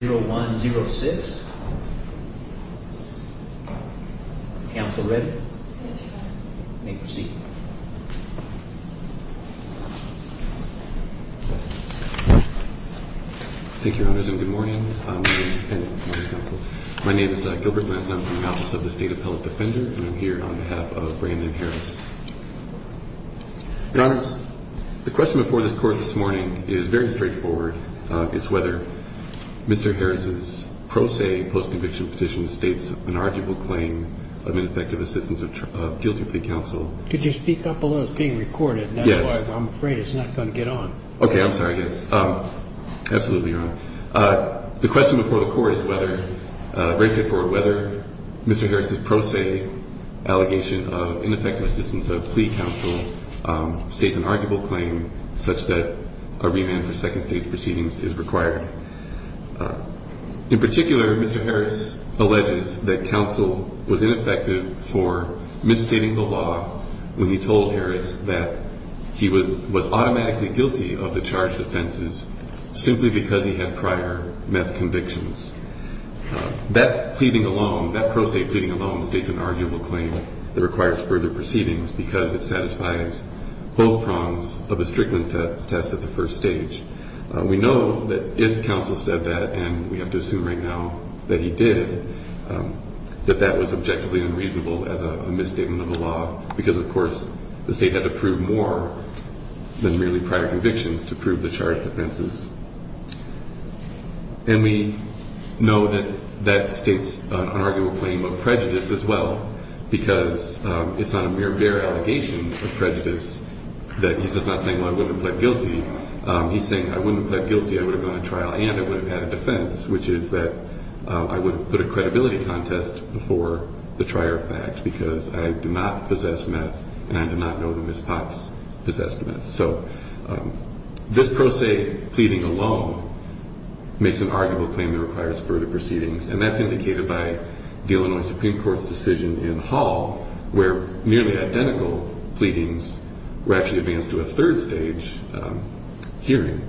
0106. Council ready? May proceed. Thank you, Your Honors, and good morning. My name is Gilbert Lantz. I'm from the Office of the State Appellate Defender, and I'm here on behalf of Brandon Harris. Your Honors, the question before this Court this morning is very straightforward. It's whether Mr. Harris's pro se post-conviction petition states an arguable claim of ineffective assistance of guilty plea counsel. Could you speak up a little? It's being recorded, and that's why I'm afraid it's not going to get on. Okay, I'm sorry, I guess. Absolutely, Your Honor. The question before the Court is whether, very straightforward, whether Mr. Harris's pro se allegation of ineffective assistance of plea counsel states an arguable claim such that a remand for second stage proceedings is required. In particular, Mr. Harris alleges that counsel was ineffective for misstating the law when he told Harris that he was automatically guilty of the charged offenses simply because he had prior meth convictions. That pleading alone, that pro se pleading alone states an arguable claim that requires further proceedings because it satisfies both prongs of a strickling test at the first stage. We know that if counsel said that, and we have to assume right now that he did, that that was objectively unreasonable as a misstatement of the law because, of course, the State had to prove more than merely prior convictions to prove the charged offenses. And we know that that states an arguable claim of prejudice as well because it's not a mere, bare allegation of prejudice that he's just not saying, well, I wouldn't have pled guilty. He's saying, I wouldn't have pled guilty, I would have gone to trial, and I would have had a defense, which is that I would have put a credibility contest before the trier of fact because I did not possess meth and I did not know that Ms. Potts possessed meth. So this pro se pleading alone makes an arguable claim that requires further proceedings, and that's indicated by the Illinois Supreme Court's decision in Hall where nearly identical pleadings were actually advanced to a third stage hearing.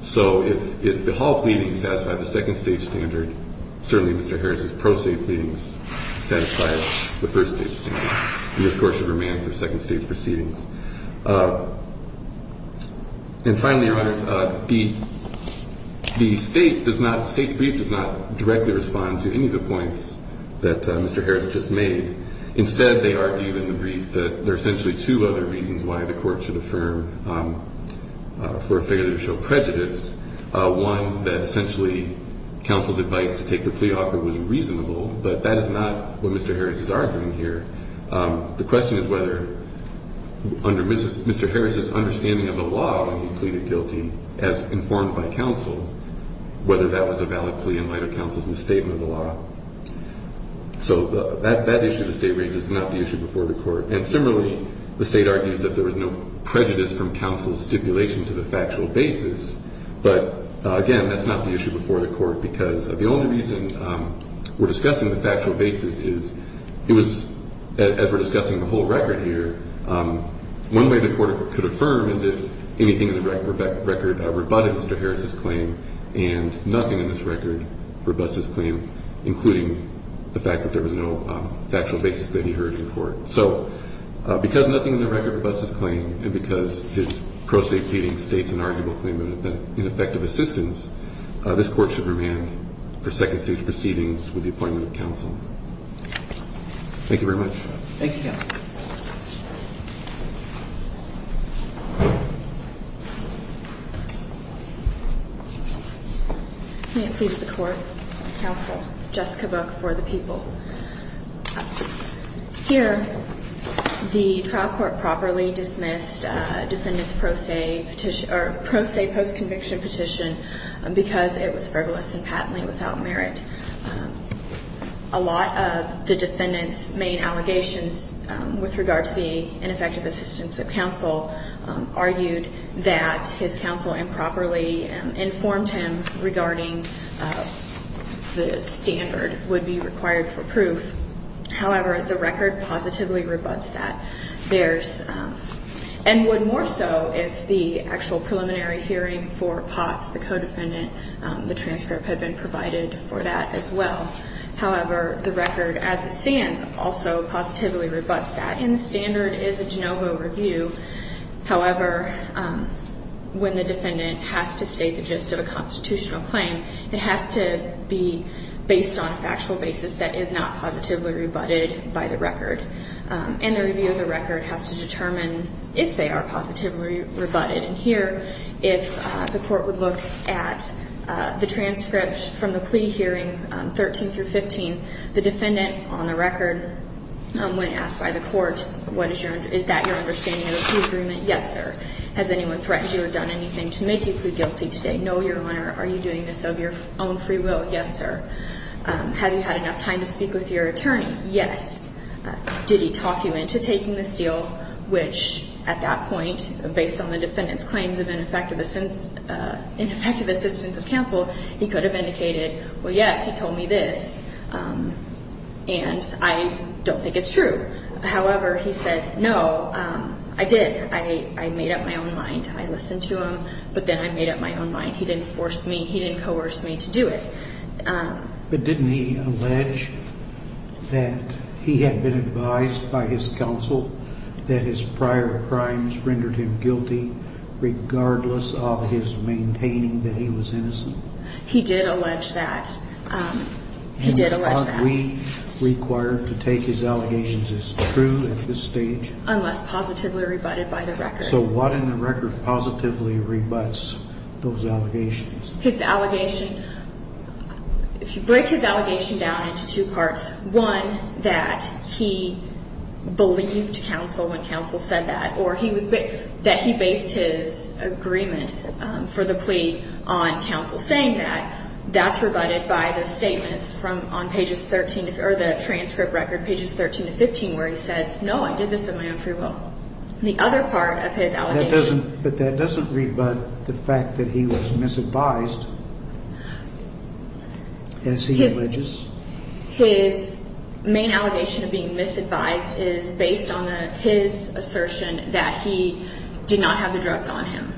So if the Hall pleadings satisfy the second stage standard, certainly Mr. Harris's pro se pleadings satisfy the first stage standard, and this Court should remain for second stage proceedings. And finally, Your Honors, the State does not, the State's brief does not directly respond to any of the points that Mr. Harris just made. Instead, they argue in the brief that there are essentially two other reasons why the Court should affirm for a failure to show prejudice. One, that essentially counsel's advice to take the plea offer was reasonable, but that is not what Mr. Harris is arguing here. The question is whether under Mr. Harris's understanding of the law when he pleaded guilty, as informed by counsel, whether that was a valid plea in light of counsel's misstatement of the law. So that issue the State raises is not the issue before the Court. And similarly, the State argues that there was no prejudice from counsel's stipulation to the factual basis. But again, that's not the issue before the Court because the only reason we're discussing the factual basis is it was, as we're discussing the whole record here, one way the Court could affirm is if anything in the record rebutted Mr. Harris's claim and nothing in this record rebutts his claim, including the fact that there was no factual basis that he heard in court. So because nothing in the record rebutts his claim and because his pro se pleading State's inarguable claim of ineffective assistance, this Court should remain for second stage proceedings with the appointment of counsel. Thank you very much. Thank you, Counsel. May it please the Court. Counsel. Jessica Book for the people. Here, the trial court properly dismissed defendant's pro se petition or pro se post-conviction petition because it was frivolous and patently without merit. A lot of the defendant's main allegations with regard to the ineffective assistance of counsel argued that his counsel improperly informed him regarding the standard would be required for proof. However, the record positively rebuts that. And would more so if the actual preliminary hearing for Potts, the co-defendant, the transcript had been provided for that as well. However, the record as it stands also positively rebuts that. And the standard is a de novo review. However, when the defendant has to state the gist of a constitutional claim, it has to be based on a factual basis that is not positively rebutted by the record. And the review of the record has to determine if they are positively rebutted. And here, if the court would look at the transcript from the plea hearing 13 through 15, the defendant on the record, when asked by the court, is that your understanding of the plea agreement? Yes, sir. Has anyone threatened you or done anything to make you plead guilty today? No, Your Honor. Are you doing this of your own free will? Yes, sir. Have you had enough time to speak with your attorney? Yes. Did he talk you into taking this deal, which at that point, based on the defendant's claims of ineffective assistance of counsel, he could have indicated, well, yes, he told me this, and I don't think it's true. However, he said, no, I did. I made up my own mind. I listened to him, but then I made up my own mind. He didn't force me. He didn't coerce me to do it. But didn't he allege that he had been advised by his counsel that his prior crimes rendered him guilty, regardless of his maintaining that he was innocent? He did allege that. And are we required to take his allegations as true at this stage? Unless positively rebutted by the record. So what in the record positively rebuts those allegations? His allegation, if you break his allegation down into two parts, one, that he believed counsel when counsel said that, or that he based his agreement for the plea on counsel saying that, that's rebutted by the statements from on pages 13, or the transcript record, pages 13 to 15, where he says, no, I did this in my own free will. The other part of his allegation. But that doesn't rebut the fact that he was misadvised as he alleges? His main allegation of being misadvised is based on his assertion that he did not have the drugs on him.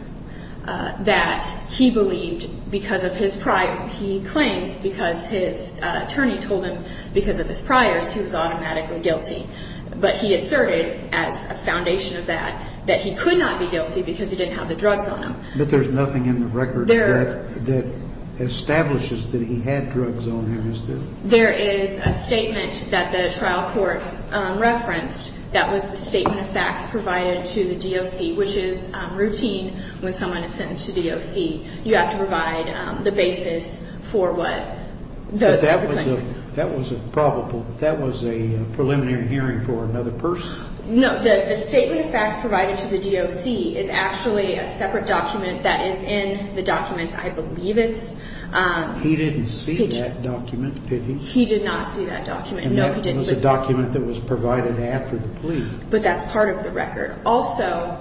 That he believed because of his prior, he claims because his attorney told him because of his priors, he was automatically guilty. But he asserted as a foundation of that, that he could not be guilty because he didn't have the drugs on him. But there's nothing in the record that establishes that he had drugs on him, is there? There is a statement that the trial court referenced that was the statement of facts provided to the DOC, which is routine when someone is sentenced to DOC. You have to provide the basis for what? That was a preliminary hearing for another person? No, the statement of facts provided to the DOC is actually a separate document that is in the documents. I believe it's. He didn't see that document, did he? He did not see that document. And that was a document that was provided after the plea. But that's part of the record. Also,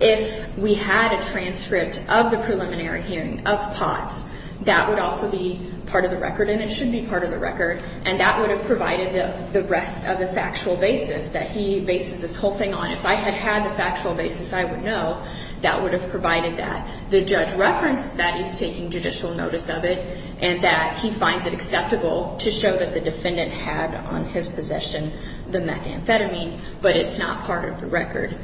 if we had a transcript of the preliminary hearing of Potts, that would also be part of the record. And it should be part of the record. And that would have provided the rest of the factual basis that he bases this whole thing on. If I had had the factual basis, I would know. That would have provided that. The judge referenced that he's taking judicial notice of it and that he finds it acceptable to show that the defendant had on his possession the methamphetamine. But it's not part of the record,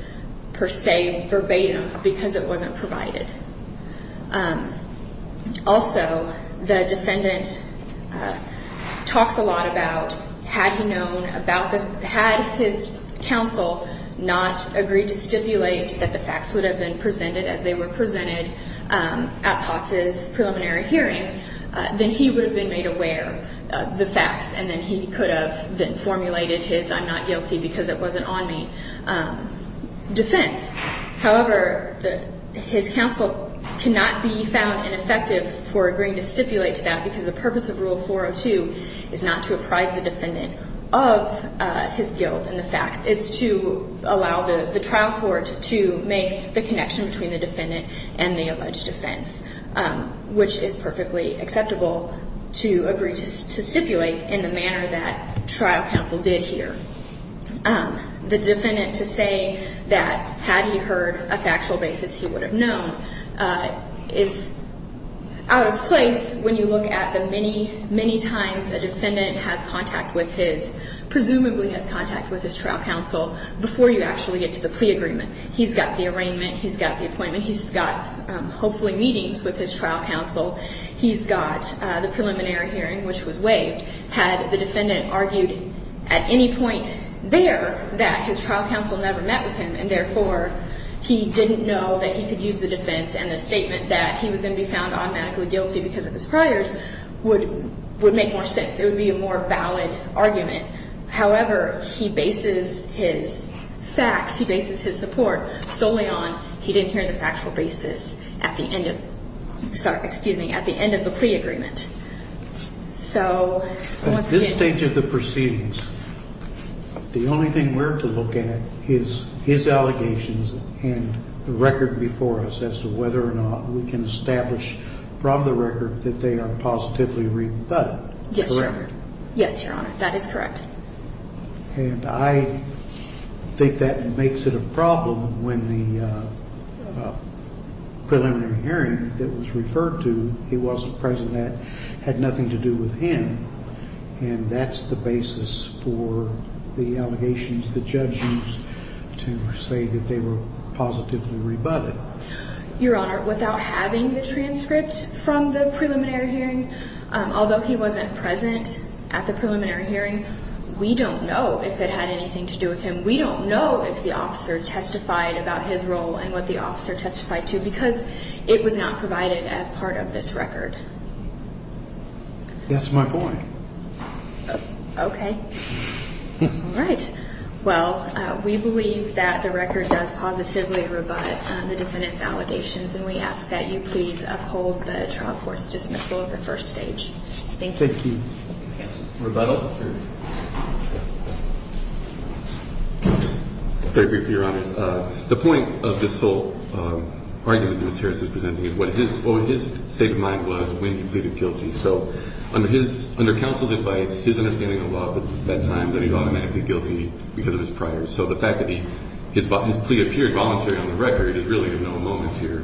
per se, verbatim, because it wasn't provided. Also, the defendant talks a lot about had he known about the, had his counsel not agreed to stipulate that the facts would have been presented as they were presented at Potts' preliminary hearing, then he would have been made aware of the facts and then he could have then formulated his I'm not guilty because it wasn't on me defense. However, his counsel cannot be found ineffective for agreeing to stipulate to that because the purpose of Rule 402 is not to apprise the defendant of his guilt and the facts. It's to allow the trial court to make the connection between the defendant and the alleged offense, which is perfectly acceptable to agree to stipulate in the manner that trial counsel did here. The defendant to say that had he heard a factual basis he would have known is out of place when you look at the many, many times a defendant has contact with his, presumably has contact with his trial counsel before you actually get to the plea agreement. He's got the arraignment. He's got the appointment. He's got hopefully meetings with his trial counsel. He's got the preliminary hearing, which was waived. Had the defendant argued at any point there that his trial counsel never met with him and therefore he didn't know that he could use the defense and the statement that he was going to be found automatically guilty because of his priors would make more sense. It would be a more valid argument. However, he bases his facts, he bases his support solely on he didn't hear the factual basis at the end of the plea agreement. So once again. At this stage of the proceedings, the only thing we're to look at is his allegations and the record before us as to whether or not we can establish from the record that they are positively rebutted. Yes, Your Honor. Correct? Yes, Your Honor. That is correct. And I think that makes it a problem when the preliminary hearing that was referred to he wasn't present that had nothing to do with him. And that's the basis for the allegations the judge used to say that they were positively rebutted. Your Honor, without having the transcript from the preliminary hearing, although he wasn't present at the preliminary hearing, we don't know if it had anything to do with him. We don't know if the officer testified about his role and what the officer testified to because it was not provided as part of this record. That's my point. Okay. All right. Well, we believe that the record does positively rebut the defendant's allegations, and we ask that you please uphold the trial court's dismissal at the first stage. Thank you. Thank you. Rebuttal? Yes, Your Honor. Very briefly, Your Honors. The point of this whole argument that Mr. Harris is presenting is what his state of mind was when he pleaded guilty. So under counsel's advice, his understanding of the law at that time that he was automatically guilty because of his priors. So the fact that his plea appeared voluntary on the record is really of no moment here.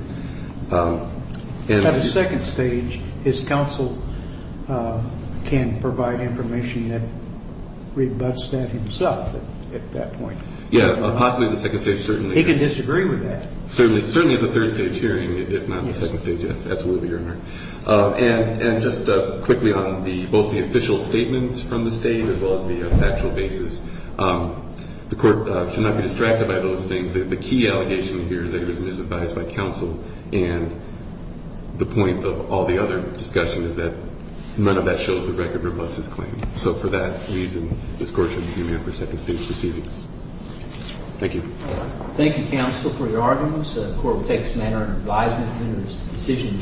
At a second stage, his counsel can provide information that rebuts that himself at that point. Yeah, possibly at the second stage, certainly. He can disagree with that. Certainly at the third stage hearing, if not the second stage. Yes, absolutely, Your Honor. And just quickly on both the official statements from the state as well as the factual basis, the court should not be distracted by those things. The key allegation here is that he was misadvised by counsel, and the point of all the other discussion is that none of that shows the record rebutts his claim. So for that reason, this court should be remanded for second stage proceedings. Thank you. Thank you, counsel, for your arguments. The court will take this matter under advisement. If there is a decision due to be made.